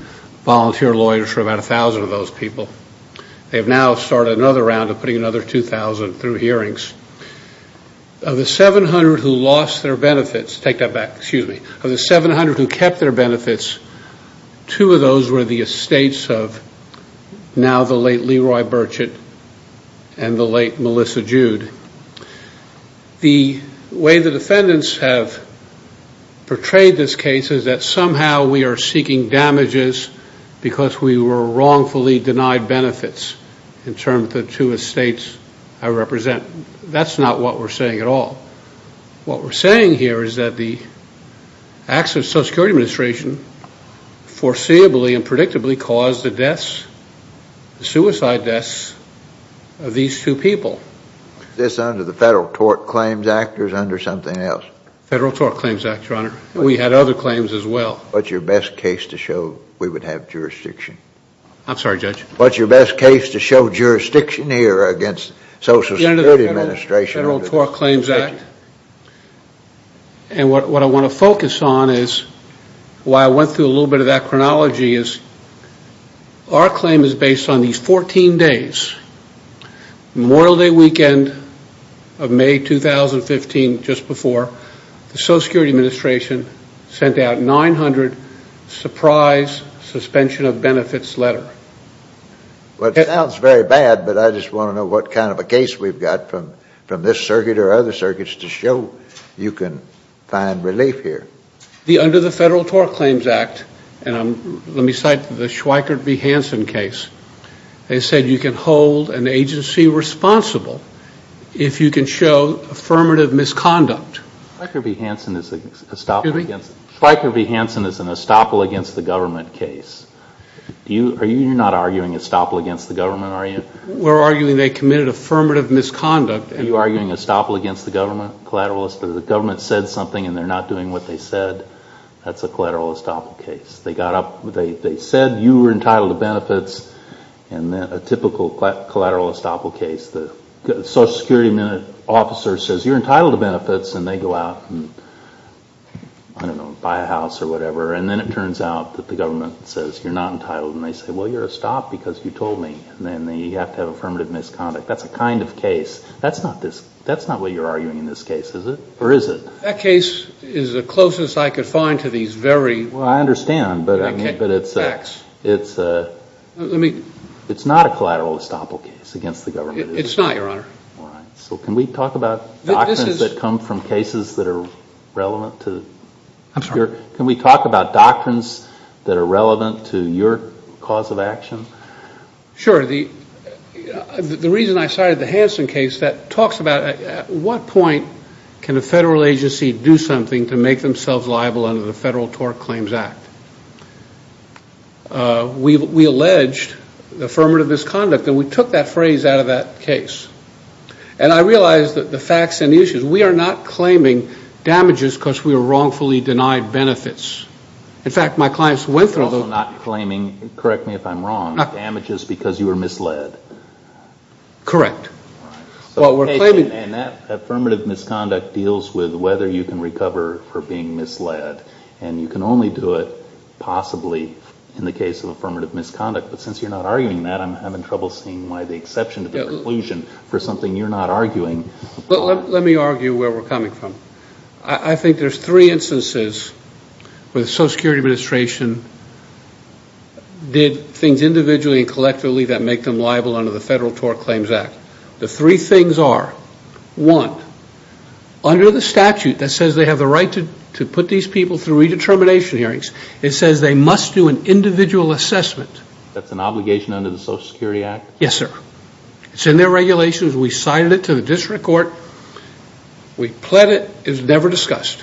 volunteer lawyers for about a thousand of those people. They have now started another round of putting another 2,000 through hearings. Of the 700 who lost their benefits, take that back, excuse me, of the 700 who kept their benefits, two of those were the estates of now the late Leroy Burchett and the late Melissa Jude. The way the defendants have portrayed this case is that somehow we are seeking damages because we were wrongfully denied benefits in terms of the two estates I represent. That's not what we're saying at all. What we're saying here is that the acts of the Social Security Administration foreseeably and predictably caused the deaths, the suicide deaths, of these two people. Is this under the Federal Tort Claims Act or is it under something else? Federal Tort Claims Act, Your Honor. We had other claims as well. What's your best case to show we would have jurisdiction? I'm sorry, Judge. What's your best case to show jurisdiction here against Social Security Administration? Under the Federal Tort Claims Act and what I want to focus on is, why I went through a little bit of that chronology, is our claim is based on these 14 days. Memorial Day weekend of May 2015, just before the Social Security Administration sent out 900 surprise suspension of benefits letter. Well, it sounds very bad, but I just want to know what kind of a case we've got from this circuit or other circuits to show you can find relief here. Under the Federal Tort Claims Act, and let me cite the Schweiker v. Hansen case, they said you can hold an agency responsible if you can show affirmative misconduct. Schweiker v. Hansen is an estoppel against the government case. You're not arguing estoppel against the government, are you? We're arguing they committed affirmative misconduct. You're arguing estoppel against the government, collateralist? The government said something and they're not doing what they said. That's a collateral estoppel case. They got up, they said you were entitled to benefits and then a typical collateral estoppel case, the Social Security officer says you're entitled to benefits and they go out and, I don't know, buy a house or whatever, and then it turns out that the government says you're not entitled and they say, well, you're estopped because you told me, and then you have to have affirmative misconduct. That's a kind of case. That's not what you're arguing in this case, is it? Or is it? That case is the closest I could find to these very facts. I understand, but it's not a collateral estoppel case against the government. It's not, Your Honor. So can we talk about documents that come from cases that are relevant to? I'm sorry? Can we talk about doctrines that are relevant to your cause of action? Sure. The reason I cited the Hansen case, that talks about at what point can a federal agency do something to make themselves liable under the Federal TORC Claims Act? We alleged affirmative misconduct and we took that phrase out of that case. And I realize that the facts and issues, we are not claiming damages because we were wrongfully denied benefits. In fact, my clients went through those. You're also not claiming, correct me if I'm wrong, damages because you were misled. Correct. And that affirmative misconduct deals with whether you can recover for being misled. And you can only do it possibly in the case of affirmative misconduct. But since you're not arguing that, I'm having trouble seeing why the exception to the conclusion for something you're not arguing. Let me argue where we're coming from. I think there's three instances where the Social Security Administration did things individually and collectively that make them liable under the Federal TORC Claims Act. The three things are, one, under the statute that says they have the right to put these people through redetermination hearings, it says they must do an individual assessment. That's an obligation under the Social Security Act? Yes, sir. It's in their regulations. We cited it to the district court. We pled it. It was never discussed.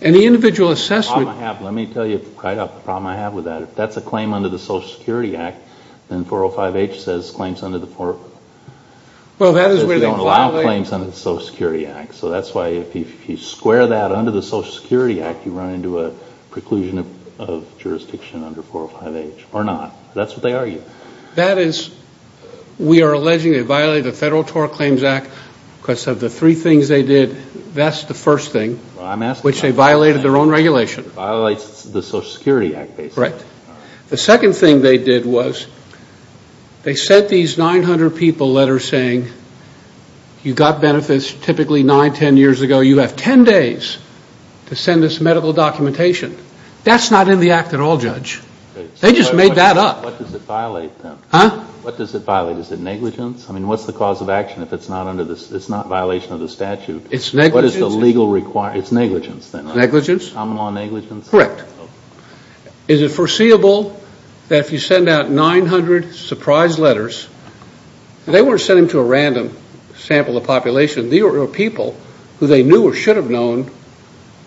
And the individual assessment... The problem I have, let me tell you right off, the problem I have with that, if that's a claim under the Social Security Act, then 405H says claims under the... Well, that is where they violate... They don't allow claims under the Social Security Act. So that's why if you square that under the Social Security Act, you run into a preclusion of jurisdiction under 405H, or not. That's what they argue. That is, we are alleging they violated the Federal TORC Claims Act because of the three things they did. That's the first thing, which they violated their own regulation. It violates the Social Security Act, basically. Correct. The second thing they did was they sent these 900 people letters saying, you got benefits typically 9, 10 years ago. You have 10 days to send us medical documentation. That's not in the act at all, Judge. They just made that up. What does it violate then? Huh? What does it violate? Is it negligence? I mean, what's the cause of action if it's not under the... It's not violation of the statute. It's negligence? What is the legal requirement? It's negligence then? Negligence. Common law negligence? Correct. Is it foreseeable that if you send out 900 surprise letters, they weren't sending to a random sample of population. These were people who they knew or should have known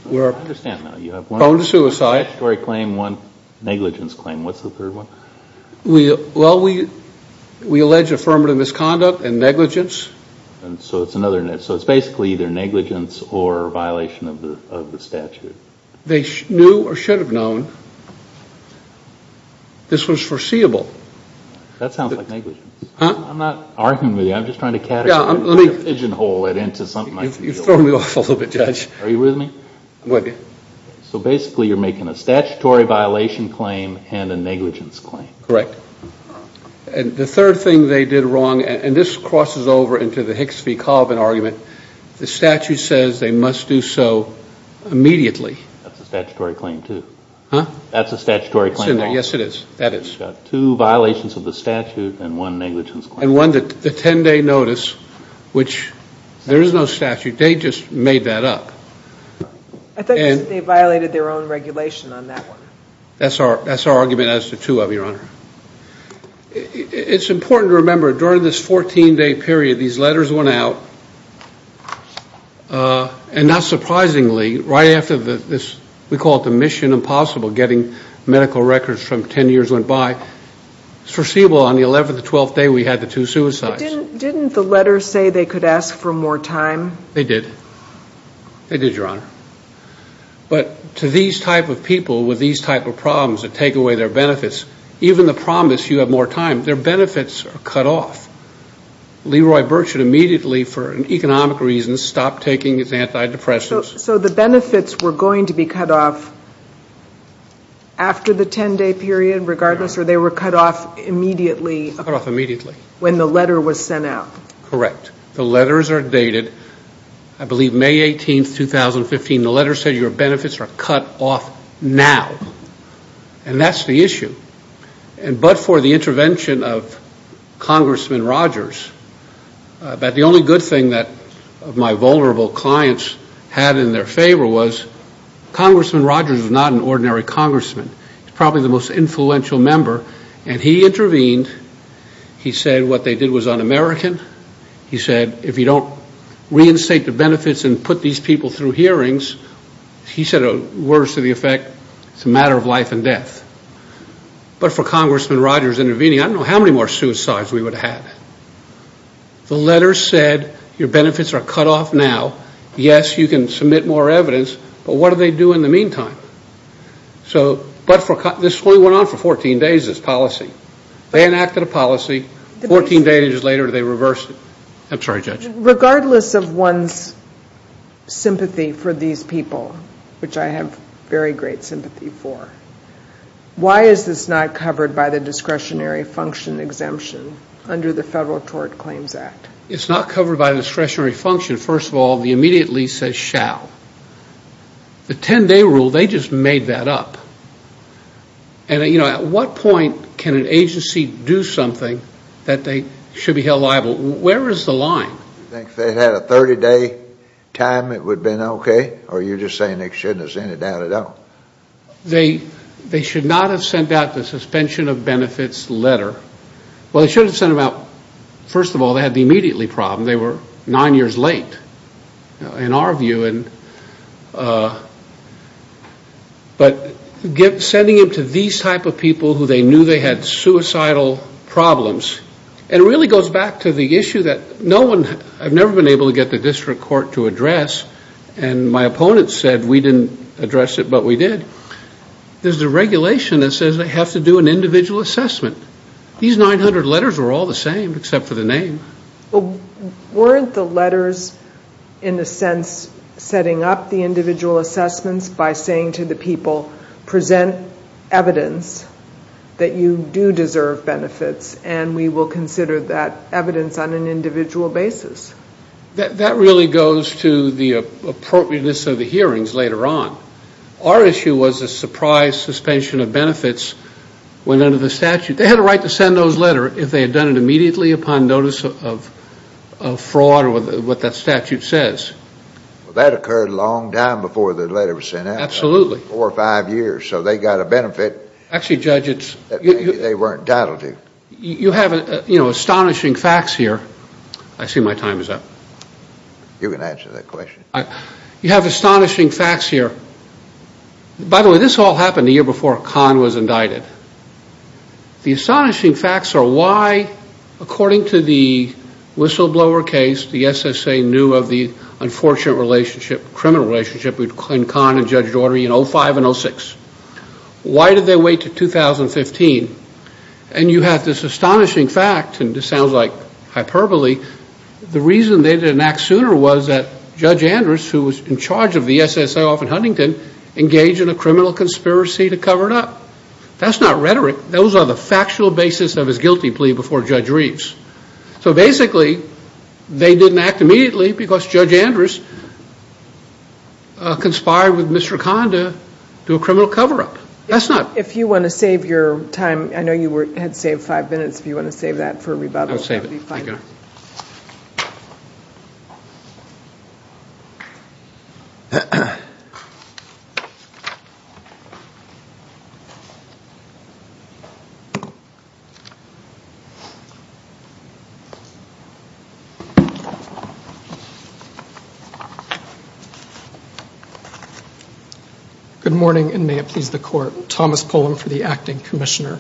were... I understand now. You have one statutory claim, one negligence claim. What's the third one? Well, we allege affirmative misconduct and negligence. So it's basically either negligence or violation of the statute. They knew or should have known. This was foreseeable. That sounds like negligence. I'm not arguing with you. I'm just trying to categorize it, put a pigeon hole into something You've thrown me off a little bit, Judge. Are you with me? So basically you're making a statutory violation claim and a negligence claim. Correct. And the third thing they did wrong, and this crosses over into the Hicks v. Colvin argument, the statute says they must do so immediately. That's a statutory claim, too. Huh? That's a statutory claim. Yes, it is. That is. You've got two violations of the statute and one negligence claim. And notice, which there is no statute. They just made that up. I thought you said they violated their own regulation on that one. That's our argument as to two of them, Your Honor. It's important to remember, during this 14-day period, these letters went out, and not surprisingly, right after this, we call it the mission impossible, getting medical records from 10 years went by. It's foreseeable on the 11th or 12th day we had the two suicides. Didn't the letters say they could ask for more time? They did. They did, Your Honor. But to these type of people with these type of problems that take away their benefits, even the promise you have more time, their benefits are cut off. Leroy Burt should immediately, for economic reasons, stop taking his antidepressants. So the benefits were going to be cut off after the 10-day period, regardless, or they were cut off immediately? Cut off immediately. When the letter was sent out. Correct. The letters are dated, I believe, May 18th, 2015. The letter said your benefits are cut off now. And that's the issue. But for the intervention of Congressman Rogers, the only good thing that my vulnerable clients had in their favor was Congressman Rogers is not an ordinary congressman. He's probably the most influential member. And he intervened. He said what they did was un-American. He said if you don't reinstate the benefits and put these people through hearings, he said words to the effect, it's a matter of life and death. But for Congressman Rogers intervening, I don't know how many more suicides we would have had. The letter said your benefits are cut off now. Yes, you can submit more evidence, but what do they do in the meantime? But this only went on for 14 days, this policy. They enacted a policy, 14 days later they reversed it. I'm sorry, Judge. Regardless of one's sympathy for these people, which I have very great sympathy for, why is this not covered by the discretionary function exemption under the Federal Tort Claims Act? It's not covered by discretionary function. First of all, the immediate lease says shall. The 10-day rule, they just made that up. And, you know, at what point can an agency do something that they should be held liable? Where is the line? You think if they had a 30-day time, it would have been okay? Or are you just saying they shouldn't have sent it down at all? They should not have sent out the suspension of benefits letter. Well, they should have sent them out. First of all, they had the immediately problem. They were nine years late in our view. But sending it to these type of people who they knew they had suicidal problems, it really goes back to the issue that no one, I've never been able to get the district court to address, and my opponents said we didn't address it, but we did. There's a regulation that says they have to do an individual assessment. These 900 letters were all the same except for the name. Weren't the letters in a sense setting up the individual assessments by saying to the people present evidence that you do deserve benefits and we will consider that evidence on an individual basis? That really goes to the appropriateness of the hearings later on. Our issue was a surprise suspension of benefits went under the statute. They had a right to send those letters if they had done it immediately upon notice of fraud or what that statute says. That occurred a long time before the letter was sent out. Absolutely. Four or five years. So they got a benefit that they weren't entitled to. You have astonishing facts here. I see my time is up. You can answer that question. You have astonishing facts here. By the way, this all happened a year before Kahn was indicted. The astonishing facts are why, according to the whistleblower case, the SSA knew of the unfortunate relationship, criminal relationship between Kahn and Judge Daugherty in 05 and 06. Why did they wait to 2015? And you have this astonishing fact, and this sounds like hyperbole, the reason they did not act sooner was that Judge Andrews, who was in charge of the SSA off in Huntington, engaged in a criminal conspiracy to cover it up. That's not rhetoric. Those are the factual basis of his guilty plea before Judge Reeves. So basically, they didn't act immediately because Judge Andrews conspired with Mr. Kahn to do a criminal cover up. If you want to save your time, I know you had saved five minutes. If you want to save that for rebuttal, that would be five minutes. Good morning, and may it please the Court. Thomas Pullum for the Acting Commissioner.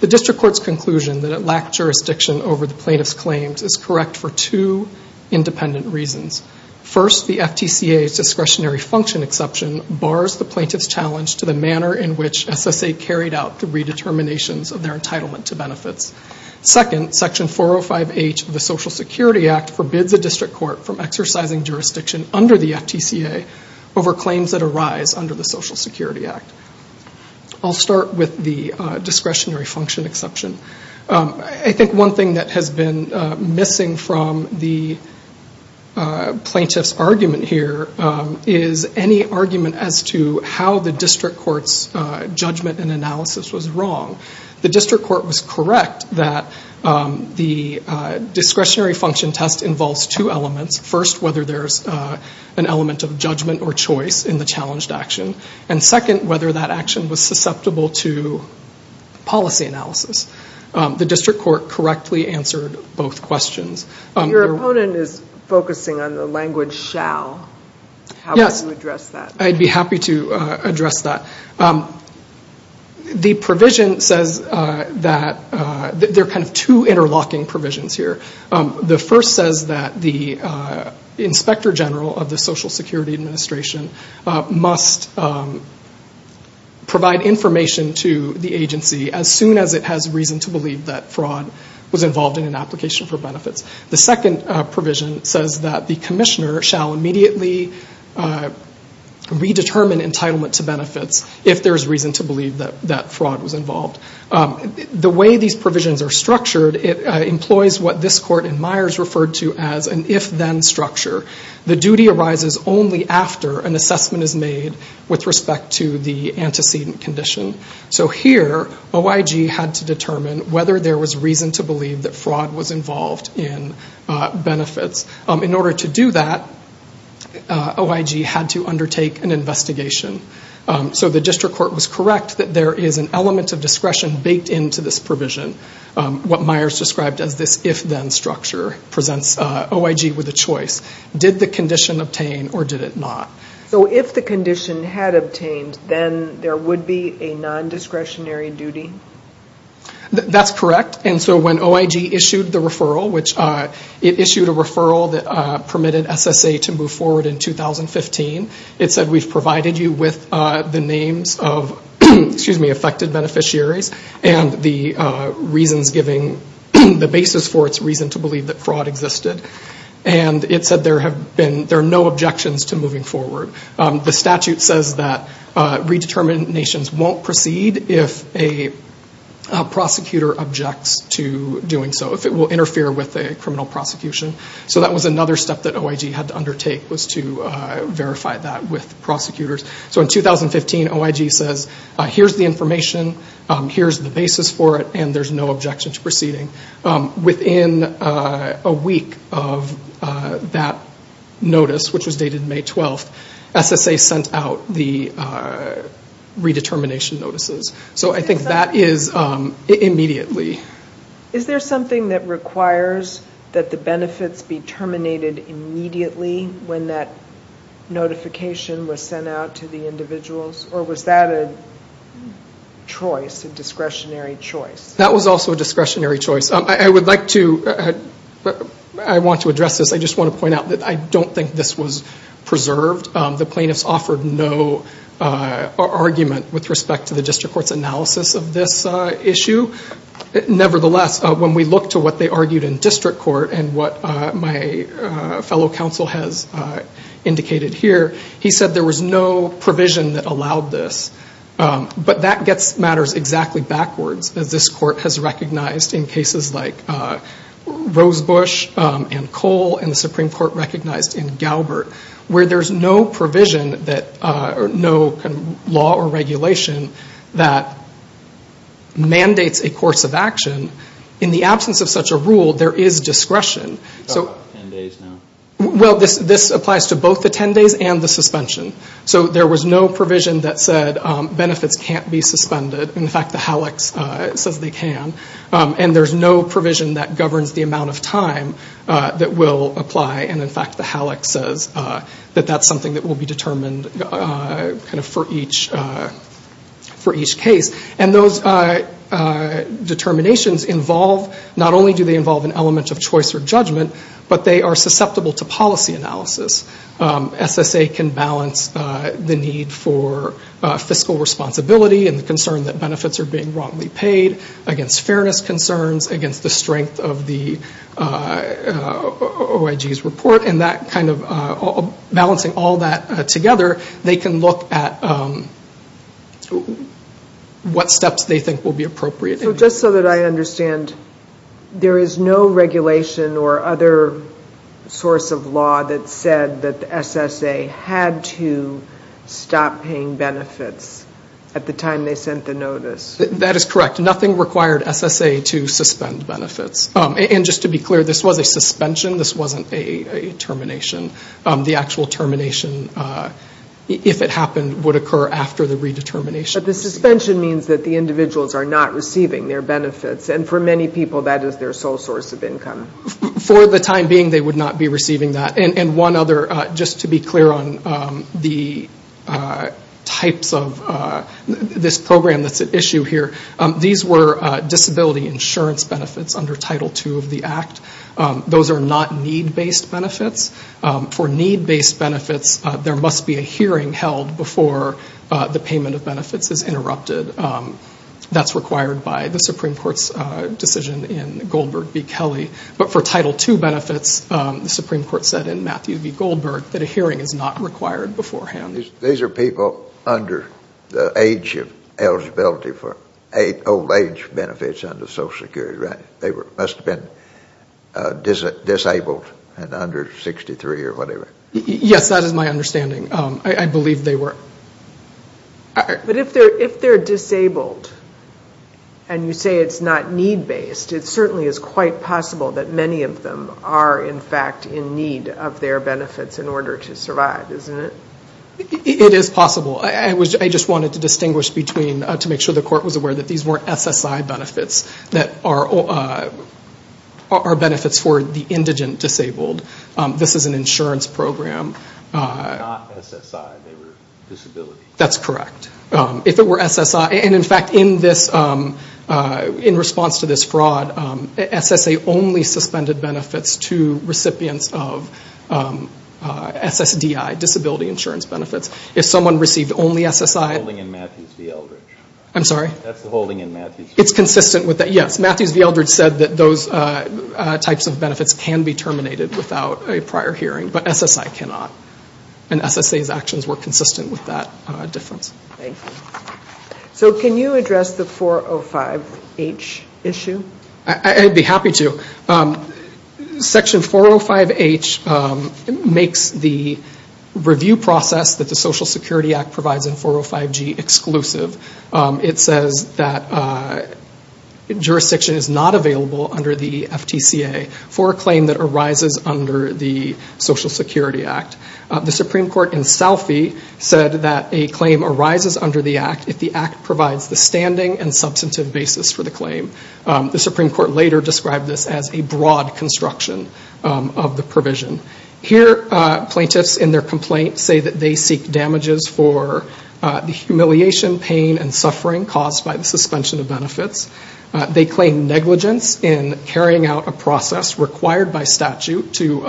The District Court's conclusion that it lacked jurisdiction over the plaintiff's claims is correct for two independent reasons. First, the FTCA's discretionary function exception bars the plaintiff's challenge to the manner in which SSA carried out the redeterminations of their entitlement to benefits. Second, Section 405H of the Social Security Act forbids the District Court from exercising jurisdiction under the FTCA over claims that arise under the Social Security Act. I'll start with the discretionary function exception. I think one thing that has been missing from the plaintiff's argument here is any argument as to how the District Court's judgment and analysis was wrong. The District Court was correct that the discretionary function test involves two elements. First, whether there's an element of judgment or choice in the challenged action. And second, whether that action was susceptible to policy analysis. The District Court correctly answered both questions. Your opponent is focusing on the language shall. How would you address that? I'd be happy to address that. The provision says that there are two interlocking provisions here. The first says that the Inspector General of the Social Security Administration must provide information to the agency as soon as it has reason to believe that fraud was involved in an application for benefits. The second provision says that the Commissioner shall immediately redetermine entitlement to benefits if there's reason to believe that fraud was involved. The way these provisions are structured, it employs what this Court in Myers referred to as an if-then structure. The duty arises only after an assessment is made with respect to the antecedent condition. So here, OIG had to determine whether there was reason to believe that fraud was involved in benefits. In order to do that, OIG had to undertake an investigation. So the District Court was correct that there is an element of discretion baked into this provision. What Myers described as this if-then structure presents OIG with a choice. Did the condition obtain or did it not? So if the condition had obtained, then there would be a non-discretionary duty? That's correct. So when OIG issued a referral that permitted SSA to move forward in 2015, it said we've provided you with the names of affected beneficiaries and the reasons giving the basis for its reason to believe that fraud existed. It said there are no objections to moving forward. The statute says that redeterminations won't proceed if a prosecutor objects to doing so, if it will interfere with a criminal prosecution. So that was another step that OIG had to undertake, was to verify that with prosecutors. So in 2015, OIG says here's the information, here's the basis for it, and there's no objection to proceeding. Within a week of that notice, which was dated May 12th, SSA sent out the redetermination notices. So I think that is immediately. Is there something that requires that the benefits be terminated immediately when that notification was sent out to the individuals, or was that a choice, a discretionary choice? That was also a discretionary choice. I would like to, I want to address this, I just want to point out that I don't think this was preserved. The plaintiffs offered no argument with respect to the district court's analysis of this issue. Nevertheless, when we look to what they argued in district court, and what my fellow counsel has indicated here, he said there was no provision that allowed this. But that gets matters exactly backwards, as this court has recognized in cases like Rosebush and Cole, and the Supreme Court recognized in Galbert, where there's no provision that, no law or regulation that mandates a course of action, in the absence of such a rule, there is discretion. You've got about 10 days now. Well, this applies to both the 10 days and the suspension. So there was no provision that said benefits can't be suspended. In fact, the HALEX says they can. And there's no provision that governs the amount of time that will apply. And in fact, the HALEX says that that's something that will be determined for each case. And those determinations involve, not only do they involve an element of choice or judgment, but they are susceptible to policy analysis. SSA can balance the need for fiscal responsibility and the concern that benefits are being wrongly paid, against fairness concerns, against the balancing all that together, they can look at what steps they think will be appropriate. Just so that I understand, there is no regulation or other source of law that said that SSA had to stop paying benefits at the time they sent the notice? That is correct. Nothing required SSA to suspend benefits. And just to be clear, this was a determination. The actual termination, if it happened, would occur after the redetermination. But the suspension means that the individuals are not receiving their benefits. And for many people, that is their sole source of income. For the time being, they would not be receiving that. And one other, just to be clear on the types of this program that's at issue here, these were disability insurance benefits under Title II of the Act. Those are not need-based benefits. For need-based benefits, there must be a hearing held before the payment of benefits is interrupted. That's required by the Supreme Court's decision in Goldberg v. Kelly. But for Title II benefits, the Supreme Court said in Matthew v. Goldberg, that a hearing is not required beforehand. These are people under the age of eligibility for old age benefits under Social Security, right? They must have been disabled and under 63 or whatever. Yes, that is my understanding. I believe they were. But if they're disabled and you say it's not need-based, it certainly is quite possible that many of them are in fact in need of their benefits in order to survive, isn't it? It is possible. I just wanted to distinguish between, to make sure the Court was aware that these weren't SSI benefits, that are benefits for the indigent disabled. This is an insurance program. They were not SSI, they were disability. That's correct. If it were SSI, and in fact in response to this fraud, SSA only suspended benefits to recipients of SSDI, disability insurance benefits. If someone received only SSI... Golding and Matthews v. Eldridge. I'm sorry? That's the holding in Matthews v. Eldridge. It's consistent with that, yes. Matthews v. Eldridge said that those types of benefits can be terminated without a prior hearing, but SSI cannot. And SSA's actions were consistent with that difference. Thank you. So can you address the 405H issue? I'd be happy to. Section 405H makes the review process that the Social Security Act provides in 405G exclusive. It says that jurisdiction is not available under the FTCA for a claim that arises under the Social Security Act. The Supreme Court in Salfie said that a claim arises under the Act if the Act provides the standing and substantive basis for the claim. The Supreme Court later described this as a broad construction of the provision. Here plaintiffs in their complaint say that they seek damages for the humiliation, pain, and suffering caused by the suspension of benefits. They claim negligence in carrying out a process required by statute to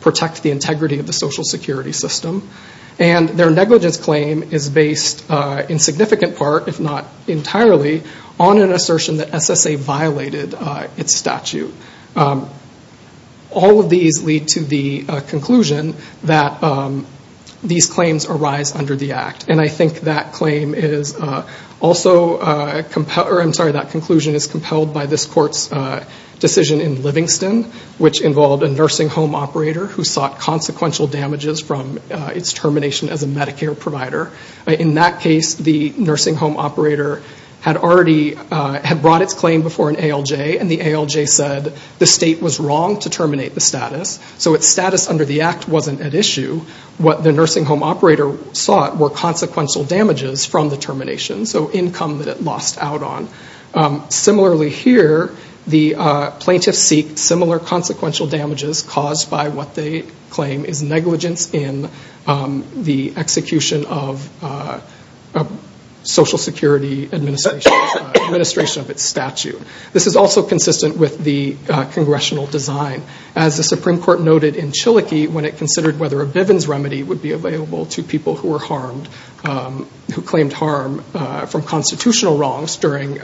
protect the integrity of the Social Security system. And their negligence claim is based in significant part, if not entirely, on an assertion that the conclusion that these claims arise under the Act. And I think that claim is also compelled or I'm sorry, that conclusion is compelled by this court's decision in Livingston, which involved a nursing home operator who sought consequential damages from its termination as a Medicare provider. In that case, the nursing home operator had already, had brought its claim before an ALJ and the ALJ said the state was wrong to terminate the status. So its status under the Act wasn't at issue. What the nursing home operator sought were consequential damages from the termination, so income that it lost out on. Similarly here, the plaintiffs seek similar consequential damages caused by what they claim is negligence in the execution of a Social Security administration of its statute. This is also consistent with the congressional design. As the Supreme Court noted in Chilokee when it considered whether a Bivens remedy would be available to people who were harmed, who claimed harm from constitutional wrongs during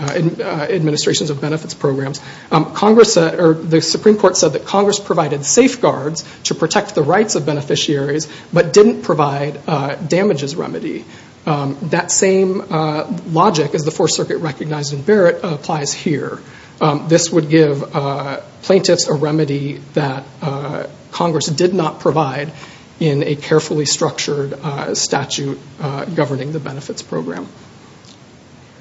administrations of benefits programs, the Supreme Court said that Congress provided safeguards to protect the rights of beneficiaries, but didn't provide damages remedy. That same logic, as the Fourth Circuit recognized in applies here. This would give plaintiffs a remedy that Congress did not provide in a carefully structured statute governing the benefits program.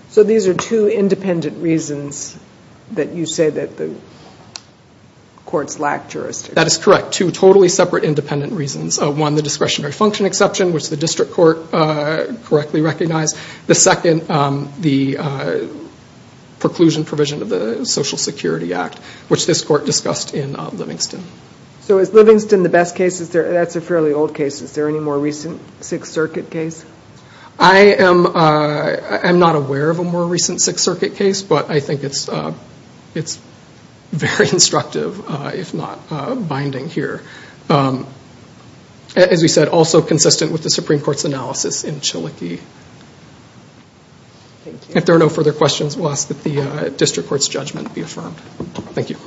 So these are two independent reasons that you say that the courts lack jurisdiction. That is correct. Two totally separate independent reasons. One, the discretionary function exception which the district court correctly recognized. The second, the preclusion provision of the Social Security Act, which this court discussed in Livingston. So is Livingston the best case? That's a fairly old case. Is there any more recent Sixth Circuit case? I am not aware of a more recent Sixth Circuit case, but I think it's very instructive if not binding here. As we said, also consistent with the Supreme Court's analysis in Chilokee. If there are no further questions, we will ask that the district court's judgment be affirmed. Thank you.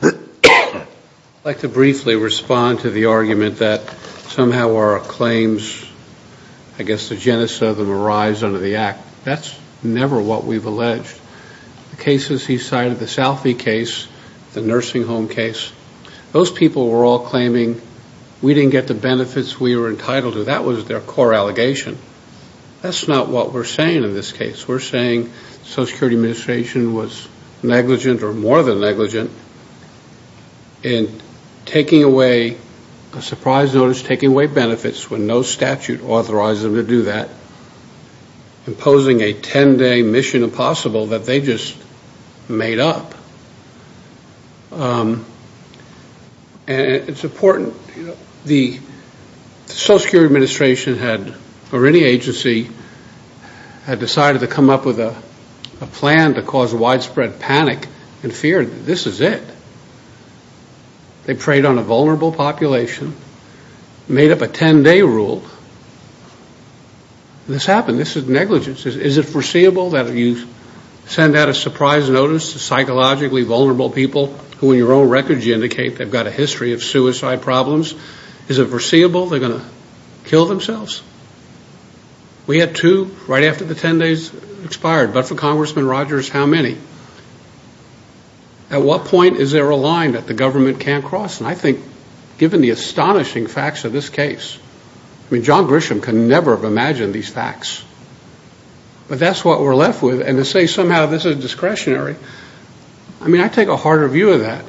I would like to briefly respond to the argument that somehow our claims, I guess the genesis of them, arise under the Act. That's never what we've alleged. The cases he cited, the Salphy case, the nursing home case, those people were all claiming we didn't get the benefits we were entitled to. That was their core allegation. That's not what we're saying in this case. We're saying the Social Security Administration was negligent or more than negligent in taking away a surprise notice, taking away benefits when no statute authorized them to do that, imposing a 10-day mission impossible that they just made up. It's important. The Social Security Administration had, or any agency, had decided to come up with a plan to cause widespread panic and fear. This is it. They preyed on a vulnerable population, made up a 10-day rule. This happened. This is negligence. Is it foreseeable that you send out a surprise notice to psychologically vulnerable people who in your own records you indicate they've got a history of suicide problems? Is it foreseeable they're going to kill themselves? We had two right after the 10 days expired. But for Congressman Rogers, how many? At what point is there a line that the government can't cross? And I think given the astonishing facts of this case, I mean, John Grisham could never have imagined these facts. But that's what we're left with. And to say somehow this is discretionary, I mean, I take a harder view of that.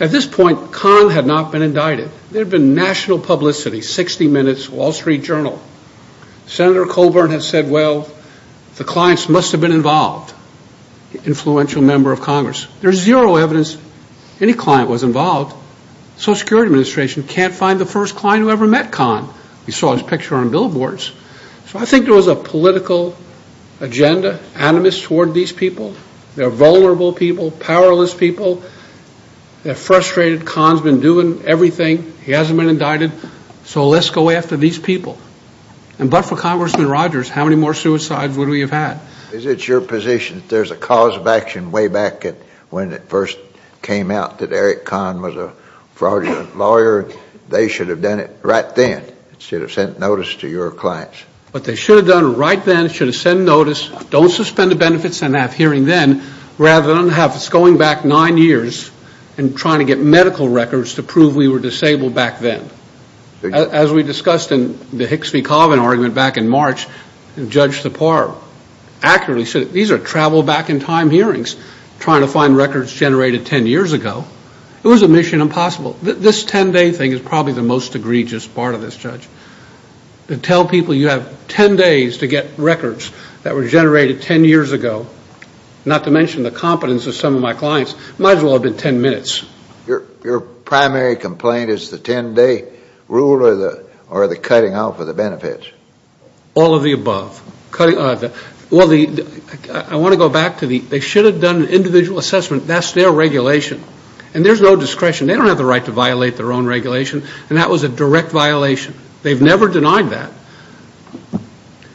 At this point, Conn had not been indicted. There had been national publicity, 60 Minutes, Wall Street Journal. Senator Colburn had said, well, the clients must have been involved. Influential member of Congress. There's zero evidence any client was involved. Social Security Administration can't find the first client who ever met Conn. You saw his picture on billboards. So I think there was a political agenda, animus toward these people. They're vulnerable people, powerless people. They're frustrated. Conn's been doing everything. He hasn't been indicted. So let's go after these people. And but for Congressman Rogers, how many more suicides would we have had? Is it your position that there's a cause of action way back when it first came out that Eric Conn was a fraudulent lawyer? They should have done it right then. Should have sent notice to your clients. But they should have done it right then. Should have sent notice. Don't suspend the benefits and have hearing then, rather than have us going back nine years and trying to get medical records to prove we were disabled back then. As we discussed in the Hicks v. Coven argument back in March, Judge Sipar accurately said these are travel-back-in-time hearings trying to find records generated ten years ago. It was a mission impossible. This ten-day thing is probably the most egregious part of this, Judge. To tell people you have ten days to get records that were generated ten years ago, not to mention the competence of some of my clients, might as well have been ten minutes. Your primary complaint is the ten-day rule or the cutting out for the benefits? All of the above. I want to go back to the they should have done an individual assessment. That's their regulation. And there's no discretion. They don't have the right to violate their own regulation. And that was a direct violation. They've never denied that.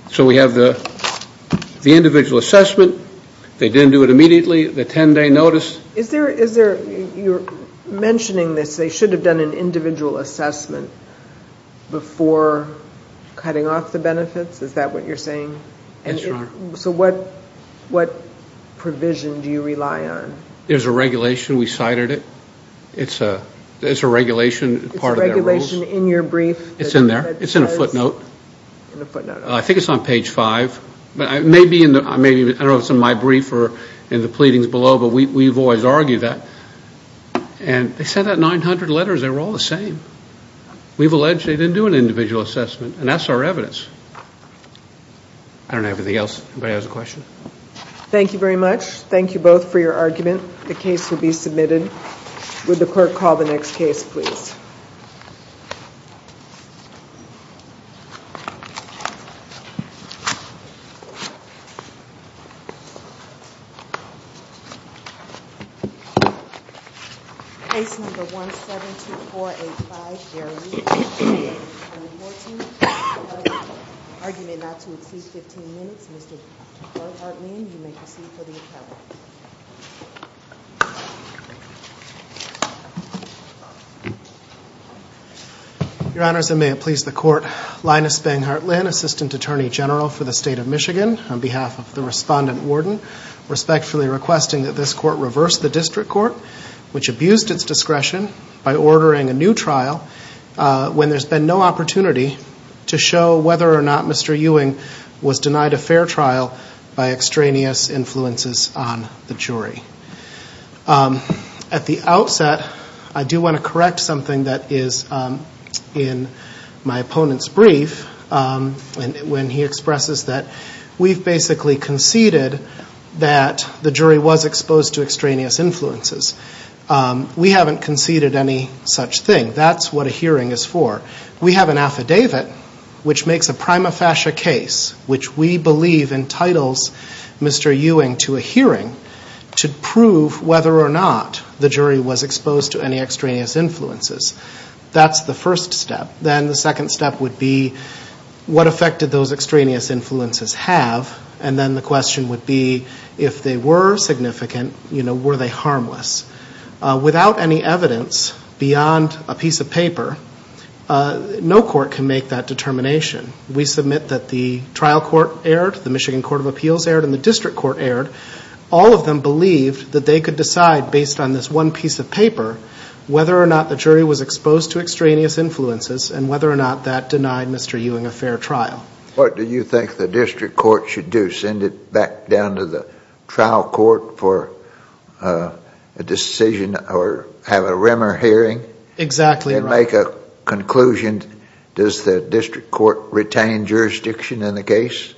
So we have the individual assessment. They didn't do it immediately. The ten-day notice. You're mentioning this. They should have done an individual assessment before cutting off the benefits. Is that what you're saying? Yes, Your Honor. So what provision do you rely on? There's a regulation. We cited it. It's a regulation part of their rules. It's a regulation in your brief? It's in there. It's in a footnote. I think it's on page five. I don't know if it's in my brief or in the pleadings below, but we've always argued that. And they sent out 900 letters. They were all the same. We've alleged they didn't do an individual assessment. And that's our evidence. I don't know anything else. Anybody has a question? Thank you very much. Thank you both for your argument. The case will be submitted. Would the court call the next case, please? Case number 172485, Gary Lee. Argument not to exceed 15 minutes. Mr. Linus Banghart-Linn, you may proceed for the appellate. Your Honors, and may it please the Court, Linus Banghart-Linn, Assistant Attorney General for the State of Michigan, on behalf of the Respondent Warden, respectfully requesting that this Court reverse the District Court, which abused its discretion by ordering a new trial when there's been no opportunity to show whether or not Mr. Ewing was denied a fair trial by extraneous influences on the jury. At the outset, I do want to correct something that is in my opponent's brief. When he expressed this, that we've basically conceded that the jury was exposed to extraneous influences. We haven't conceded any such thing. That's what a hearing is for. We have an affidavit which makes a prima facie case, which we believe entitles Mr. Ewing to a hearing to prove whether or not the jury was exposed to any extraneous influences. That's the first step. Then the question would be, if they were significant, were they harmless? Without any evidence beyond a piece of paper, no court can make that determination. We submit that the trial court erred, the Michigan Court of Appeals erred, and the District Court erred. All of them believed that they could decide, based on this one piece of paper, whether or not the jury was exposed to extraneous influences. What do you think the District Court should do? Send it back down to the trial court for a decision, or have a rimmer hearing, and make a conclusion? Does the District Court retain jurisdiction in the case?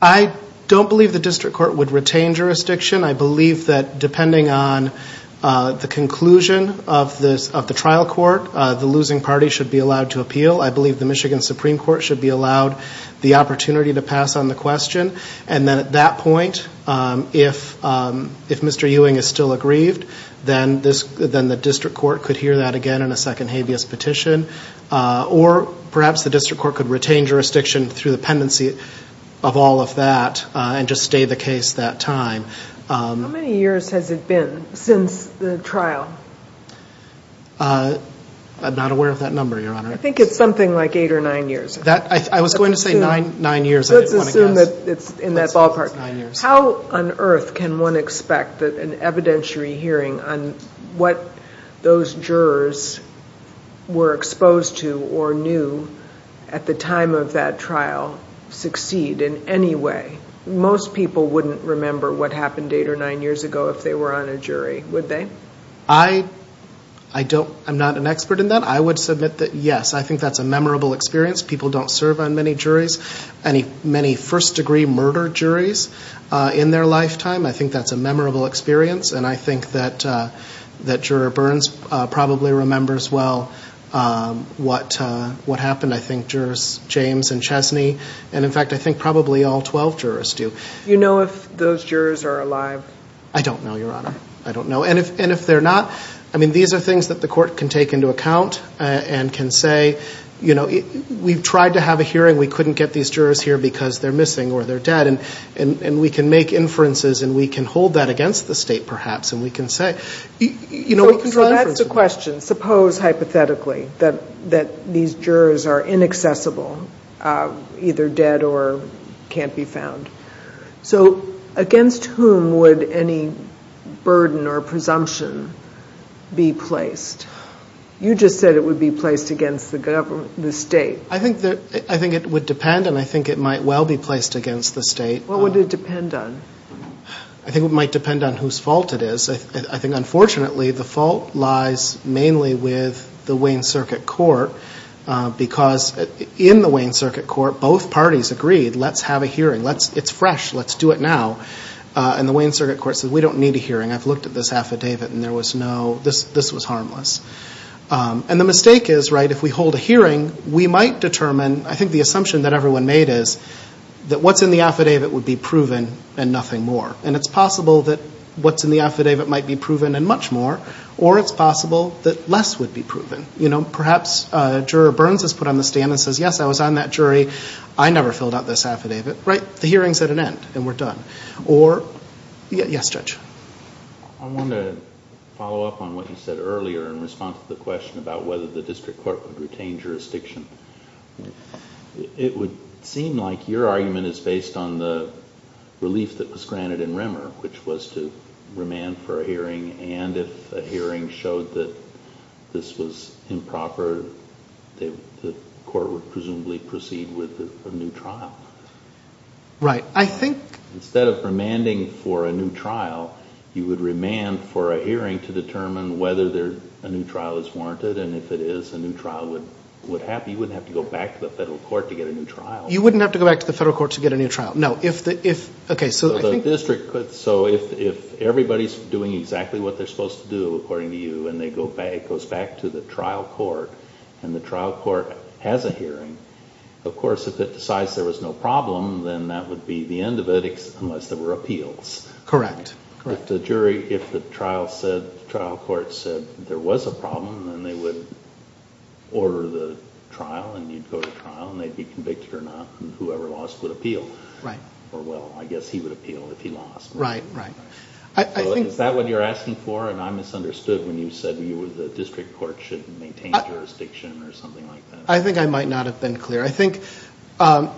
I don't believe the District Court would retain jurisdiction. I believe that depending on the conclusion of the trial court, the losing party should be allowed to appeal. I believe the Michigan Supreme Court should be allowed the opportunity to pass on the question. Then at that point, if Mr. Ewing is still aggrieved, then the District Court could hear that again in a second habeas petition. Or perhaps the District Court could retain jurisdiction through the pendency of all of that, and just stay the case that time. How many years has it been since the trial? I'm not aware of that number, Your Honor. I think it's something like eight or nine years. I was going to say nine years. Let's assume that it's in that ballpark. How on earth can one expect that an evidentiary hearing on what those jurors were exposed to or knew at the time of that trial succeed in any way? Most people wouldn't remember what happened eight or nine years ago if they were on a jury, would they? I'm not an expert in that. I would submit that yes, I think that's a memorable experience. People don't serve on many first-degree murder juries in their lifetime. I think that's a memorable experience, and I think that Juror Burns probably remembers well what happened. I think Jurors James and Chesney, and in fact, I think probably all 12 jurors do. Do you know if those jurors are alive? I don't know, Your Honor. I don't know. These are things that the court can take into account and can say, we've tried to have a hearing. We couldn't get these jurors here because they're missing or they're dead. We can make inferences, and we can hold that against the state perhaps, and we can say, you know, we can try to inferences. So that's the question. Suppose, hypothetically, that these jurors are inaccessible, either dead or can't be found. So against whom would any burden or presumption be placed? You just said it would be placed against the state. I think it would depend, and I think it might well be placed against the state. What would it depend on? I think it might depend on whose fault it is. I think, unfortunately, the fault lies mainly with the Wayne Circuit Court because in the Wayne Circuit Court, both parties agreed, let's have a hearing. It's fresh. Let's do it now. And the Wayne Circuit Court said, we don't need a hearing. I've looked at this affidavit, and there was no, this was harmless. And the mistake is, right, if we hold a hearing, we might determine, I think the assumption that everyone made is that what's in the affidavit would be proven and nothing more. And it's possible that what's in the affidavit might be proven and much more, or it's possible that less would be proven. Perhaps Juror Burns has put on the stand and says, yes, I was on that jury. I never filled out this affidavit. Right? The hearing's at an end, and we're done. Or, yes, Judge? I want to follow up on what you said earlier in response to the question about whether the district court would retain jurisdiction. It would seem like your argument is based on the relief that was granted in Remmer, which was to remand for a hearing, and if a hearing showed that this was improper, the court would presumably proceed with a new trial. Right. I think... Instead of remanding for a new trial, you would remand for a hearing to determine whether a new trial is warranted, and if it is, a new trial would happen. You wouldn't have to go back to the federal court to get a new trial. You wouldn't have to go back to the federal court to get a new trial. No. If the, if, okay, so I think... So if everybody's doing exactly what they're supposed to do, according to you, and it goes back to the trial court, and the trial court has a hearing, of course, if it decides there was no problem, then that would be the end of it, unless there were appeals. Correct. If the jury, if the trial said, the trial court said there was a problem, then they would order the trial, and you'd go to trial, and they'd be convicted or not, and whoever lost would appeal. Right. Or, well, I guess he would appeal if he lost. Right, right. I think... Is that what you're asking for? And I misunderstood when you said you were, the district court should maintain jurisdiction, or something like that. I think I might not have been clear. I think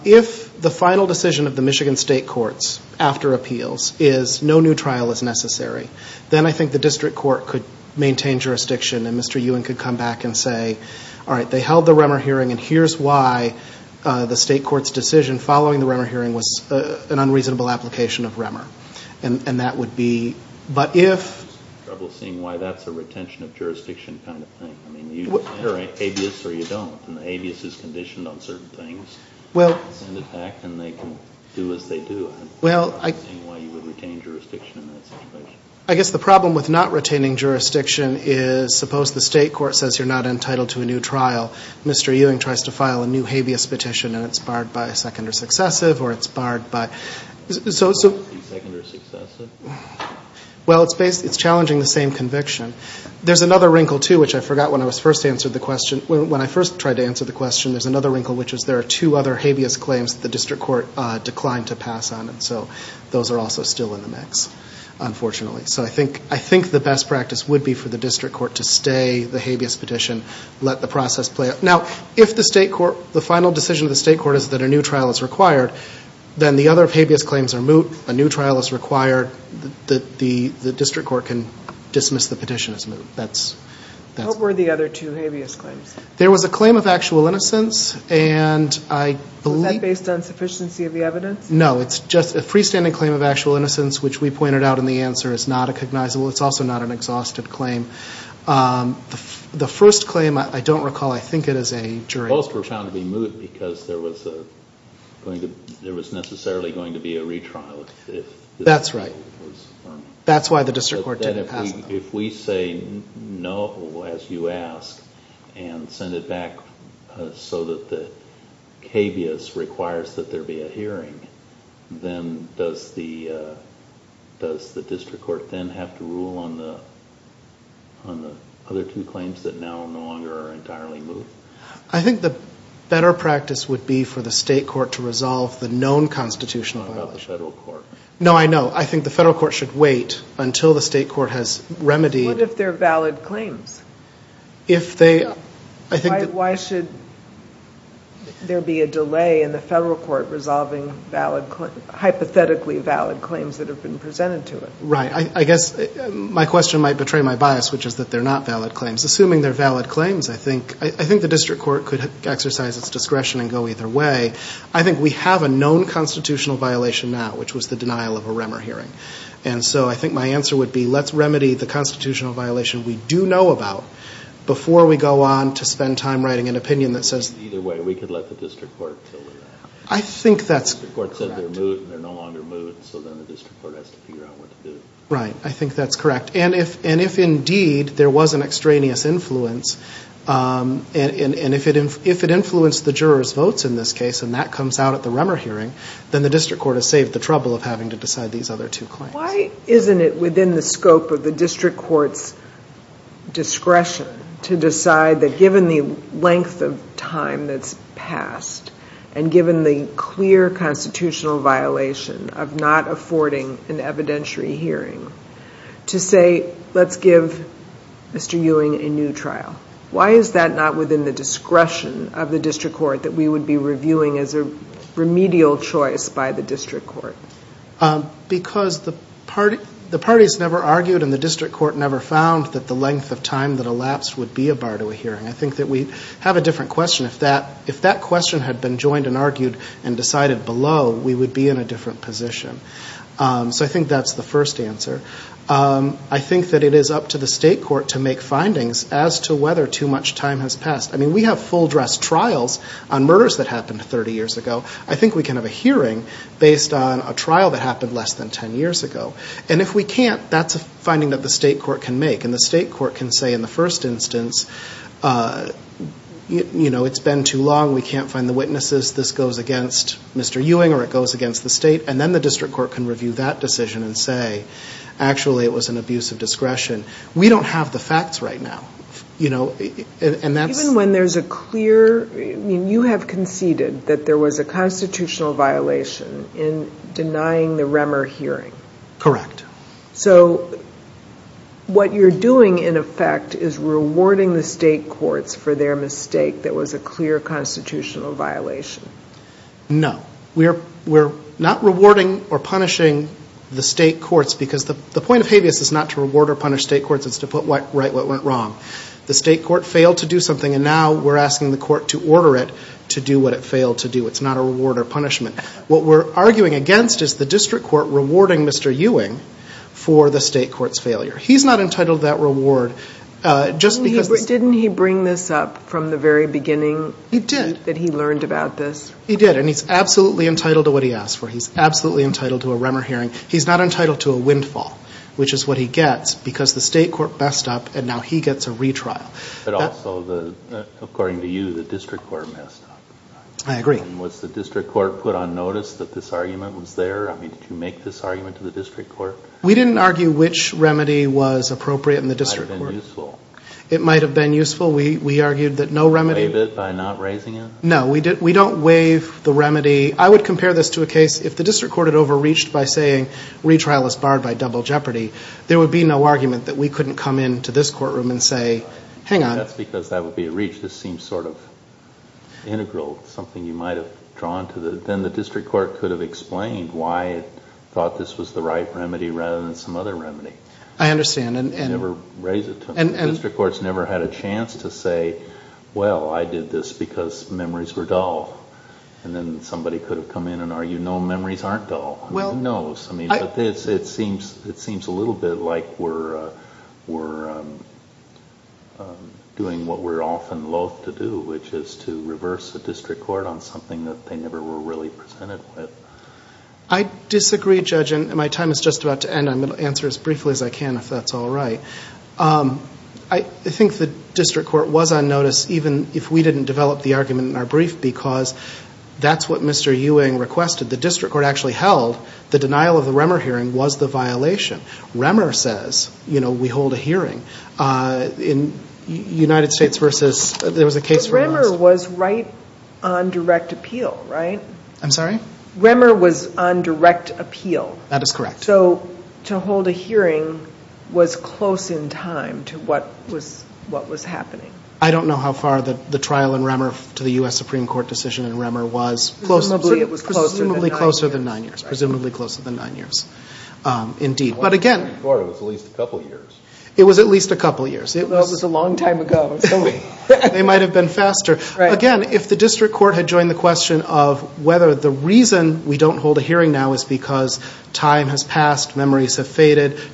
if the final decision of the Michigan state courts, after appeals, is no new trial is necessary, then I think the district court could maintain jurisdiction, and Mr. Ewing could come back and say, all right, they held the Remmer hearing, and here's why the state court's decision following the Remmer hearing was an unreasonable application of Remmer. And that would be, but if... I have trouble seeing why that's a retention of jurisdiction kind of thing. I mean, you enter a habeas, or you don't, and the habeas is conditioned on certain things, and in fact, and they can do as they do. I'm not understanding why you would retain jurisdiction in that situation. I guess the problem with not retaining jurisdiction is, suppose the state court says you're not Mr. Ewing tries to file a new habeas petition, and it's barred by a second or successive, or it's barred by... A second or successive? Well, it's challenging the same conviction. There's another wrinkle, too, which I forgot when I was first answered the question, when I first tried to answer the question, there's another wrinkle, which is there are two other habeas claims that the district court declined to pass on, and so those are also still in the mix, unfortunately. So I think the best practice would be for the district court to stay the habeas petition, let the process play out. Now, if the final decision of the state court is that a new trial is required, then the other habeas claims are moot, a new trial is required, the district court can dismiss the petition as moot. What were the other two habeas claims? There was a claim of actual innocence, and I believe... Was that based on sufficiency of the evidence? No, it's just a freestanding claim of actual innocence, which we pointed out in the answer is not recognizable. It's also not an exhausted claim. The first claim, I don't recall, I think it is a jury... Both were found to be moot because there was necessarily going to be a retrial if... That's right. That's why the district court didn't pass them. If we say no, as you ask, and send it back so that the habeas requires that there be a hearing, then does the district court then have to rule on the other two claims that are now no longer entirely moot? I think the better practice would be for the state court to resolve the known constitutional violence. What about the federal court? No, I know. I think the federal court should wait until the state court has remedied... What if they're valid claims? Why should there be a delay in the federal court resolving hypothetically valid claims that have been presented to it? Right. I guess my question might betray my bias, which is that they're not valid claims. Assuming they're valid claims, I think the district court could exercise its discretion and go either way. I think we have a known constitutional violation now, which was the denial of a Remmer hearing. I think my answer would be, let's remedy the constitutional violation we do know about before we go on to spend time writing an opinion that says... Either way, we could let the district court deal with that. I think that's correct. The district court said they're moot and they're no longer moot, so then the district court has to figure out what to do. Right. I think that's correct. If indeed there was an extraneous influence, and if it influenced the jurors' votes in this case, and that comes out at the Remmer hearing, then the district court has saved the trouble of having to decide these other two claims. Why isn't it within the scope of the district court's discretion to decide that given the length of time that's passed, and given the clear constitutional violation of not affording an evidentiary hearing, to say, let's give Mr. Ewing a new trial? Why is that not within the discretion of the district court that we would be reviewing as a remedial choice by the district court? Because the parties never argued and the district court never found that the length of time that elapsed would be a bar to a hearing. I think that we have a different question. If that question had been joined and argued and decided below, we would be in a different position. So I think that's the first answer. I think that it is up to the state court to make findings as to whether too much time has passed. I mean, we have full dress trials on murders that happened 30 years ago. I think we can have a hearing based on a trial that happened less than 10 years ago. And if we can't, that's a finding that the state court can make. And the state court can say in the first instance, you know, it's been too long, we can't find the witnesses, this goes against Mr. Ewing or it goes against the state. And then the district court can review that decision and say, actually, it was an abuse of discretion. We don't have the facts right now, you know, and that's... Even when there's a clear, I mean, you have conceded that there was a constitutional violation in denying the Remmer hearing. Correct. So what you're doing, in effect, is rewarding the state courts for their mistake that was a clear constitutional violation. No. We're not rewarding or punishing the state courts because the point of habeas is not to reward or punish state courts, it's to put right what went wrong. The state court failed to do something and now we're asking the court to order it to do what it failed to do. It's not a reward or punishment. What we're arguing against is the district court rewarding Mr. Ewing for the state court's failure. He's not entitled to that reward just because... Didn't he bring this up from the very beginning? He did. Did he learn about this? He did, and he's absolutely entitled to what he asked for. He's absolutely entitled to a Remmer hearing. He's not entitled to a windfall, which is what he gets because the state court messed up and now he gets a retrial. But also, according to you, the district court messed up. I agree. Was the district court put on notice that this argument was there? I mean, did you make this argument to the district court? We didn't argue which remedy was appropriate in the district court. It might have been useful. It might have been useful. We argued that no remedy... No, we don't waive the remedy. I would compare this to a case if the district court had overreached by saying retrial is barred by double jeopardy, there would be no argument that we couldn't come into this courtroom and say, hang on. That's because that would be a reach. This seems sort of integral, something you might have drawn to the... Then the district court could have explained why it thought this was the right remedy rather than some other remedy. I understand. You never raise it to them. The district court's never had a chance to say, well, I did this because memories were dull. Then somebody could have come in and argued, no, memories aren't dull. Who knows? It seems a little bit like we're doing what we're often loathed to do, which is to reverse the district court on something that they never were really presented with. I disagree, Judge. My time is just about to end. I'm going to answer as briefly as I can if that's all right. I think the district court was on notice even if we didn't develop the argument in our brief because that's what Mr. Ewing requested. The district court actually held the denial of the Remmer hearing was the violation. Remmer says, we hold a hearing in United States versus... There was a case where it was... Remmer was right on direct appeal, right? I'm sorry? Remmer was on direct appeal. That is correct. So to hold a hearing was close in time to what was happening. I don't know how far the trial in Remmer to the U.S. Supreme Court decision in Remmer was. Presumably, it was closer than nine years. Presumably closer than nine years. Presumably closer than nine years. Indeed. But again... It was at least a couple of years. It was at least a couple of years. Well, it was a long time ago, so... They might have been faster. Again, if the district court had joined the question of whether the reason we don't hold a hearing now is because time has passed, memories have the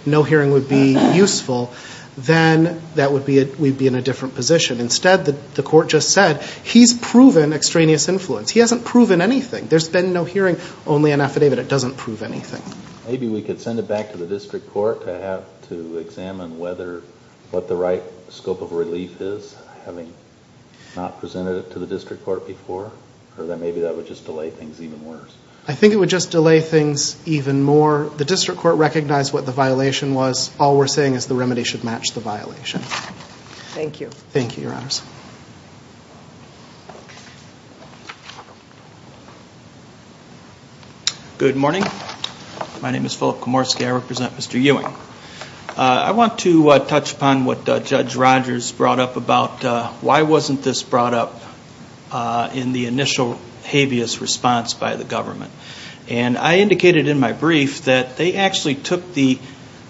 court just said, he's proven extraneous influence. He hasn't proven anything. There's been no hearing, only an affidavit. It doesn't prove anything. Maybe we could send it back to the district court to examine whether... What the right scope of relief is, having not presented it to the district court before. Or maybe that would just delay things even worse. I think it would just delay things even more. The district court recognized what the violation Thank you. Thank you, your honors. Good morning. My name is Philip Komorski. I represent Mr. Ewing. I want to touch upon what Judge Rogers brought up about why wasn't this brought up in the initial habeas response by the government. And I indicated in my brief that they actually took the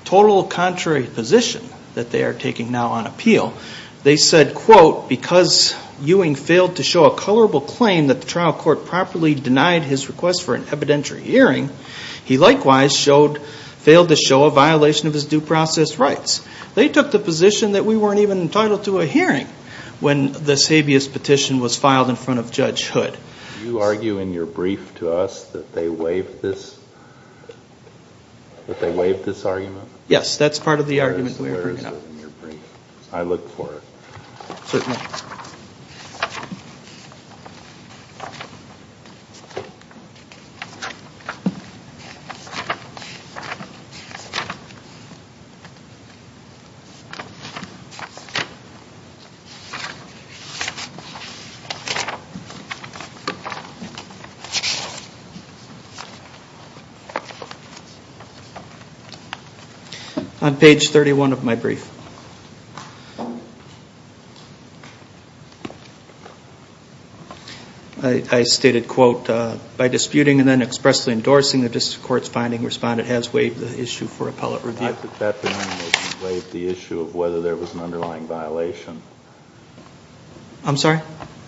total contrary position that they are taking now on appeal. They said, quote, because Ewing failed to show a colorable claim that the trial court properly denied his request for an evidentiary hearing, he likewise failed to show a violation of his due process rights. They took the position that we weren't even entitled to a hearing when this habeas petition was filed in front of Judge Hood. Do you argue in your brief to us that they waived this argument? Yes, that's part of the argument we are bringing up in your brief. I look for it. Certainly. On page 31 of my brief, I stated, quote, by disputing and then expressly endorsing the district court's finding, respondent has waived the issue for appellate review. I took that to mean they waived the issue of whether there was an underlying violation. I'm sorry?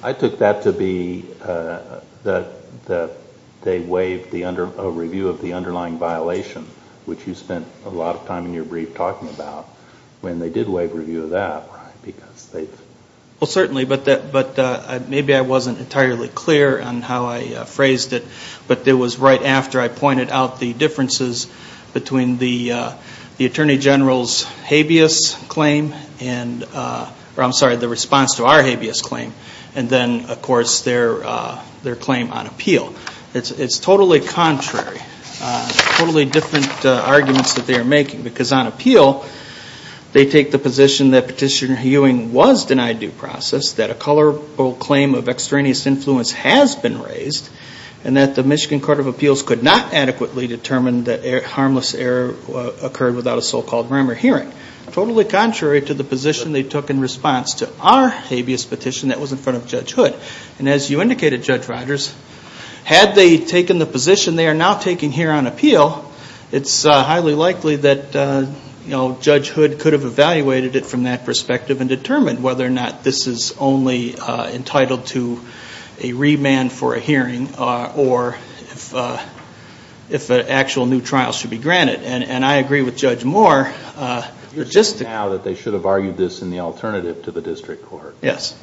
I took that to be that they waived a review of the underlying violation, which you spent a lot of time in your brief talking about, when they did waive review of that, right? Well, certainly, but maybe I wasn't entirely clear on how I phrased it, but it was right after I pointed out the differences between the Attorney General's habeas claim and, I'm sorry, the response to our habeas claim, and then, of course, their claim on appeal. It's totally contrary, totally different arguments that they are making, because on appeal, they take the position that Petitioner Ewing was denied due process, that a colorable claim of extraneous influence has been raised, and that the Michigan Court of Appeals could not adequately determine that harmless error occurred without a so-called grammar hearing. Totally contrary to the position they took in response to our habeas petition that was in front of Judge Hood. As you indicated, Judge Rodgers, had they taken the position they are now taking here on appeal, it's highly likely that Judge Hood could have evaluated it from that perspective and determined whether or not this is only entitled to a remand for a hearing, or if an actual new trial should be granted. I agree with Judge Moore, but just to- You're saying now that they should have argued this in the alternative to the district court? Yes.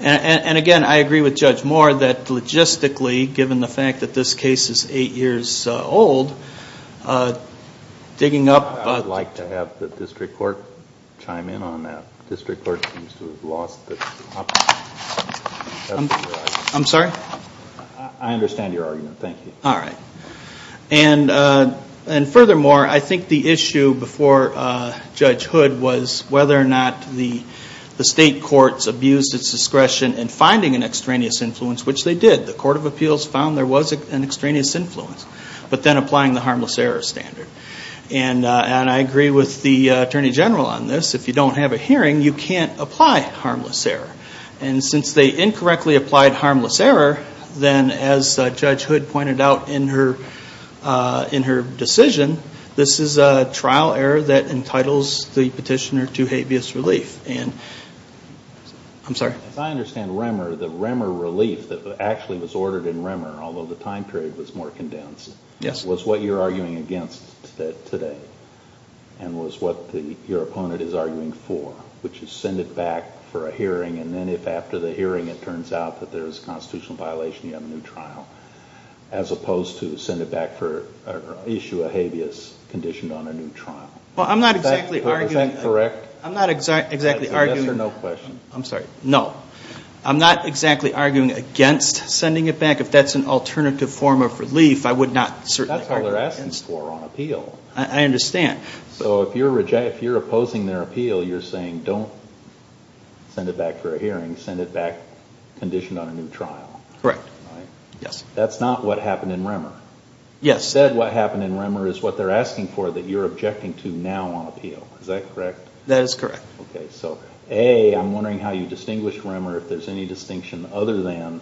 Again, I agree with Judge Moore that logistically, given the fact that this case is 8 years old, digging up- I would like to have the district court chime in on that. District court seems to have lost the topic. I'm sorry? I understand your argument, thank you. All right. Furthermore, I think the issue before Judge Hood was whether or not the state courts abused its discretion in finding an extraneous influence, which they did. The Court of Appeals found there was an extraneous influence, but then applying the harmless error standard. I agree with the Attorney General on this. If you don't have a hearing, you can't apply harmless error. Since they incorrectly applied harmless error, then as Judge Hood pointed out in her decision, this is a trial error that entitles the petitioner to habeas relief. I'm sorry? As I understand REMER, the REMER relief that actually was ordered in REMER, although the time period was more condensed, was what you're arguing against today, and was what your opponent is arguing for, which is send it back for a hearing, and then if after the hearing it turns out that there's a constitutional violation, you have a new trial, as opposed to send it back for an issue of habeas conditioned on a new trial. Well, I'm not exactly arguing against sending it back. If that's an alternative form of relief, I would not certainly argue against it. That's what we're asking for on appeal. I understand. So if you're opposing their appeal, you're saying don't send it back for a hearing, send it back conditioned on a new trial. Correct. That's not what happened in REMER. Instead, what happened in REMER is what they're asking for that you're objecting to now on appeal. Is that correct? That is correct. Okay, so A, I'm wondering how you distinguish REMER, if there's any distinction other than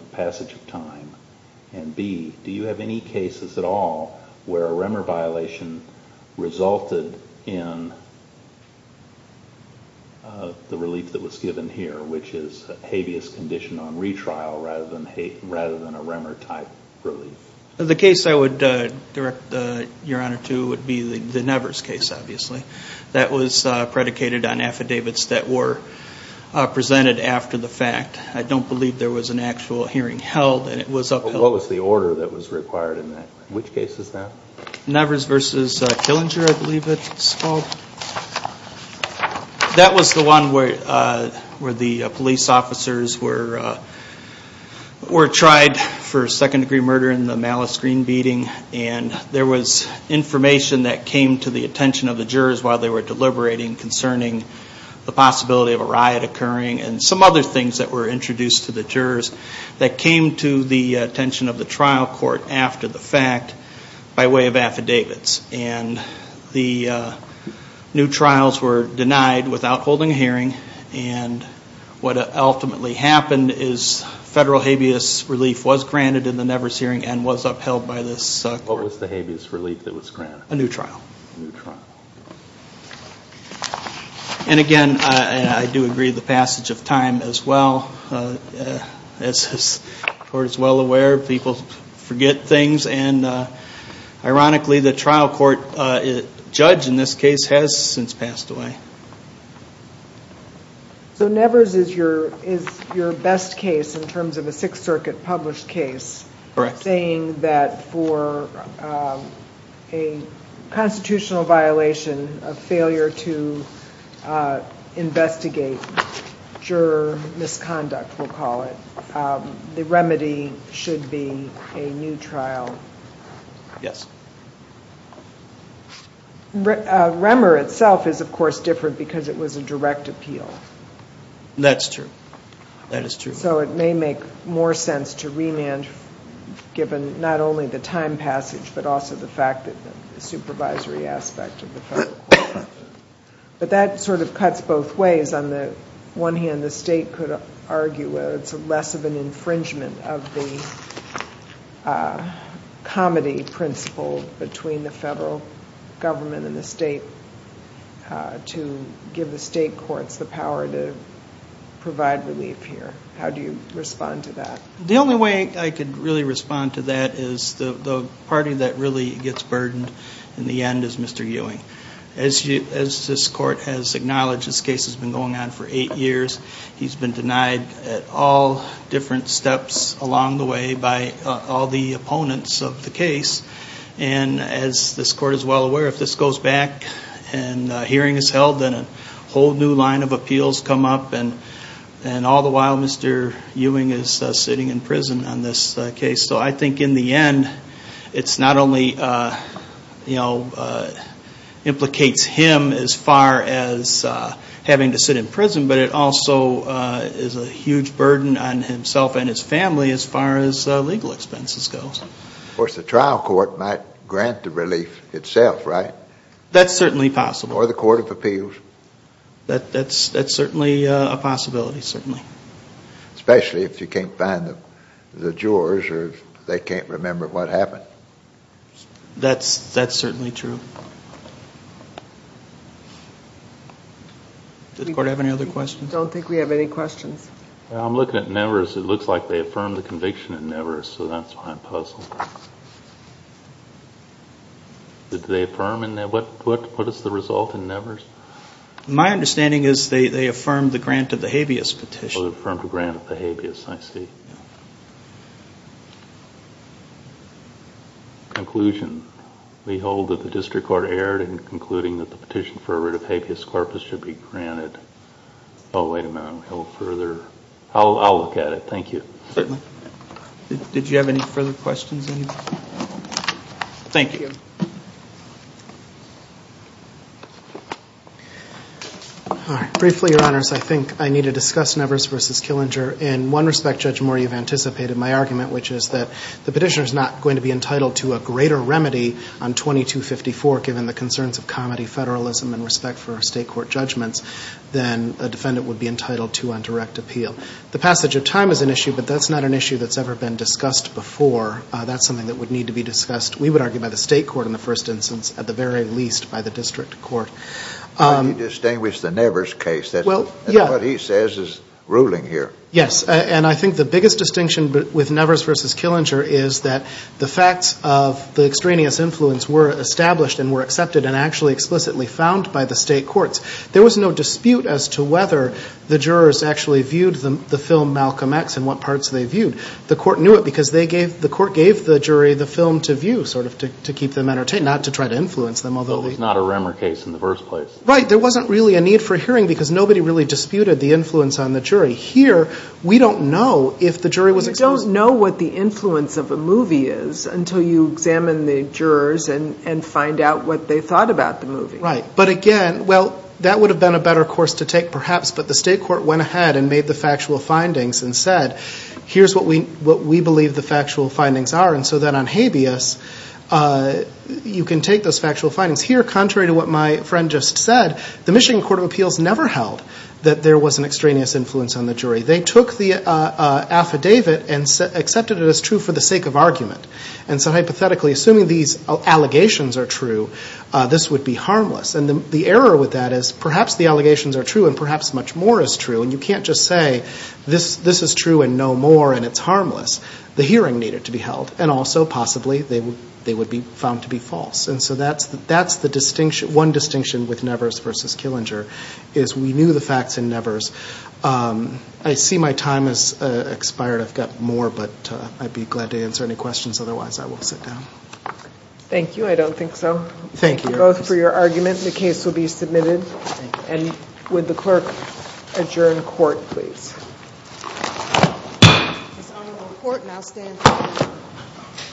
in the relief that was given here, which is habeas conditioned on retrial rather than a REMER-type relief. The case I would direct Your Honor to would be the Nevers case, obviously. That was predicated on affidavits that were presented after the fact. I don't believe there was an actual hearing held, and it was upheld. What was the order that was required in that case? Which case is that? Nevers v. Killinger, I believe it's called. That was the one where the police officers were tried for second-degree murder in the Malice Green beating, and there was information that came to the attention of the jurors while they were deliberating concerning the possibility of a riot occurring and some other things that were introduced to the jurors that came to the attention of the trial court after the fact by way of affidavits. And the new trials were denied without holding a hearing, and what ultimately happened is federal habeas relief was granted in the Nevers hearing and was upheld by this court. What was the habeas relief that was granted? A new trial. A new trial. And again, I do agree with the passage of time as well. As this court is well aware, people forget things, and ironically, the trial court judge in this case has since passed away. So Nevers is your best case in terms of a Sixth Circuit-published case, saying that for a constitutional violation, a failure to investigate juror misconduct, we'll call it, the remedy should be a new trial. Yes. Remmer itself is, of course, different because it was a direct appeal. That's true. That is true. So it may make more sense to remand, given not only the time passage, but also the fact that the supervisory aspect of the federal court. But that sort of cuts both ways. On the one hand, the state could argue it's less of an infringement of the comity principle between the federal government and the state to give the state courts the power to provide relief here. How do you respond to that? The only way I could really respond to that is the party that really gets burdened in the end is Mr. Ewing. As this court has acknowledged, this case has been going on for eight years. He's been denied at all different steps along the way by all the opponents of the case. And as this court is well aware, if this goes back and a hearing is held, then a whole new line of appeals come up. And all the while, Mr. Ewing is sitting in prison on this case. So I think in the end, it not only implicates him as far as having to sit in prison, but it also is a huge burden on himself and his family as far as legal expenses goes. Of course, the trial court might grant the relief itself, right? That's certainly possible. Or the court of appeals. That's certainly a possibility, certainly. Especially if you can't find the jurors or they can't remember what happened. That's certainly true. Does the court have any other questions? I don't think we have any questions. I'm looking at Nevers. It looks like they affirmed the conviction at Nevers, so that's why I'm puzzled. Did they affirm? What is the result in Nevers? My understanding is they affirmed the grant of the habeas petition. Oh, they affirmed the grant of the habeas, I see. Conclusion. We hold that the district court erred in concluding that the petition for a writ of habeas corpus should be granted. Oh, wait a minute. We hold further. I'll look at it. Thank you. Certainly. Did you have any further questions? Thank you. All right. Briefly, your honors, I think I need to discuss Nevers v. Killinger. In one respect, Judge Moore, you've anticipated my argument, which is that the petitioner is not going to be entitled to a greater remedy on 2254, given the concerns of comedy, federalism and respect for state court judgments, than a defendant would be entitled to on direct appeal. The passage of time is an issue, but that's not an issue that's ever been discussed before. That's something that would need to be discussed. We would argue by the state court in the first instance, at the very least by the district court. But he distinguished the Nevers case. That's what he says is ruling here. Yes. And I think the biggest distinction with Nevers v. Killinger is that the facts of the extraneous influence were established and were accepted and actually explicitly found by the state courts. There was no dispute as to whether the jurors actually viewed the film Malcolm X and what parts they viewed. The court knew it because they gave, the court gave the jury the film to view sort of to keep them entertained, not to try to influence them, although it was not a Remmer case in the first place. Right. There wasn't really a need for hearing because nobody really disputed the influence on the jury. Here, we don't know if the jury was exposed. You don't know what the influence of a movie is until you examine the jurors and find out what they thought about the movie. Right. But again, well, that would have been a better course to take perhaps, but the state court went ahead and made the factual findings and said, here's what we believe the factual findings are. And so then on habeas, you can take those factual findings. Here, contrary to what my friend just said, the Michigan Court of Appeals never held that there was an extraneous influence on the jury. They took the affidavit and accepted it as true for the sake of argument. And so hypothetically, assuming these allegations are true, this would be harmless. And the error with that is perhaps the allegations are true and perhaps much more is true. And you can't just say, this is true and no more and it's harmless. The hearing needed to be held and also possibly they would be found to be false. And so that's the distinction, one distinction with Nevers versus Killinger is we knew the facts in Nevers. I see my time has expired. I've got more, but I'd be glad to answer any questions, otherwise I will sit down. Thank you. I don't think so. Thank you. Both for your argument. The case will be submitted. Thank you. And would the clerk adjourn court, please? This honorable court now stands adjourned. Thank you. Thank you. Thank you.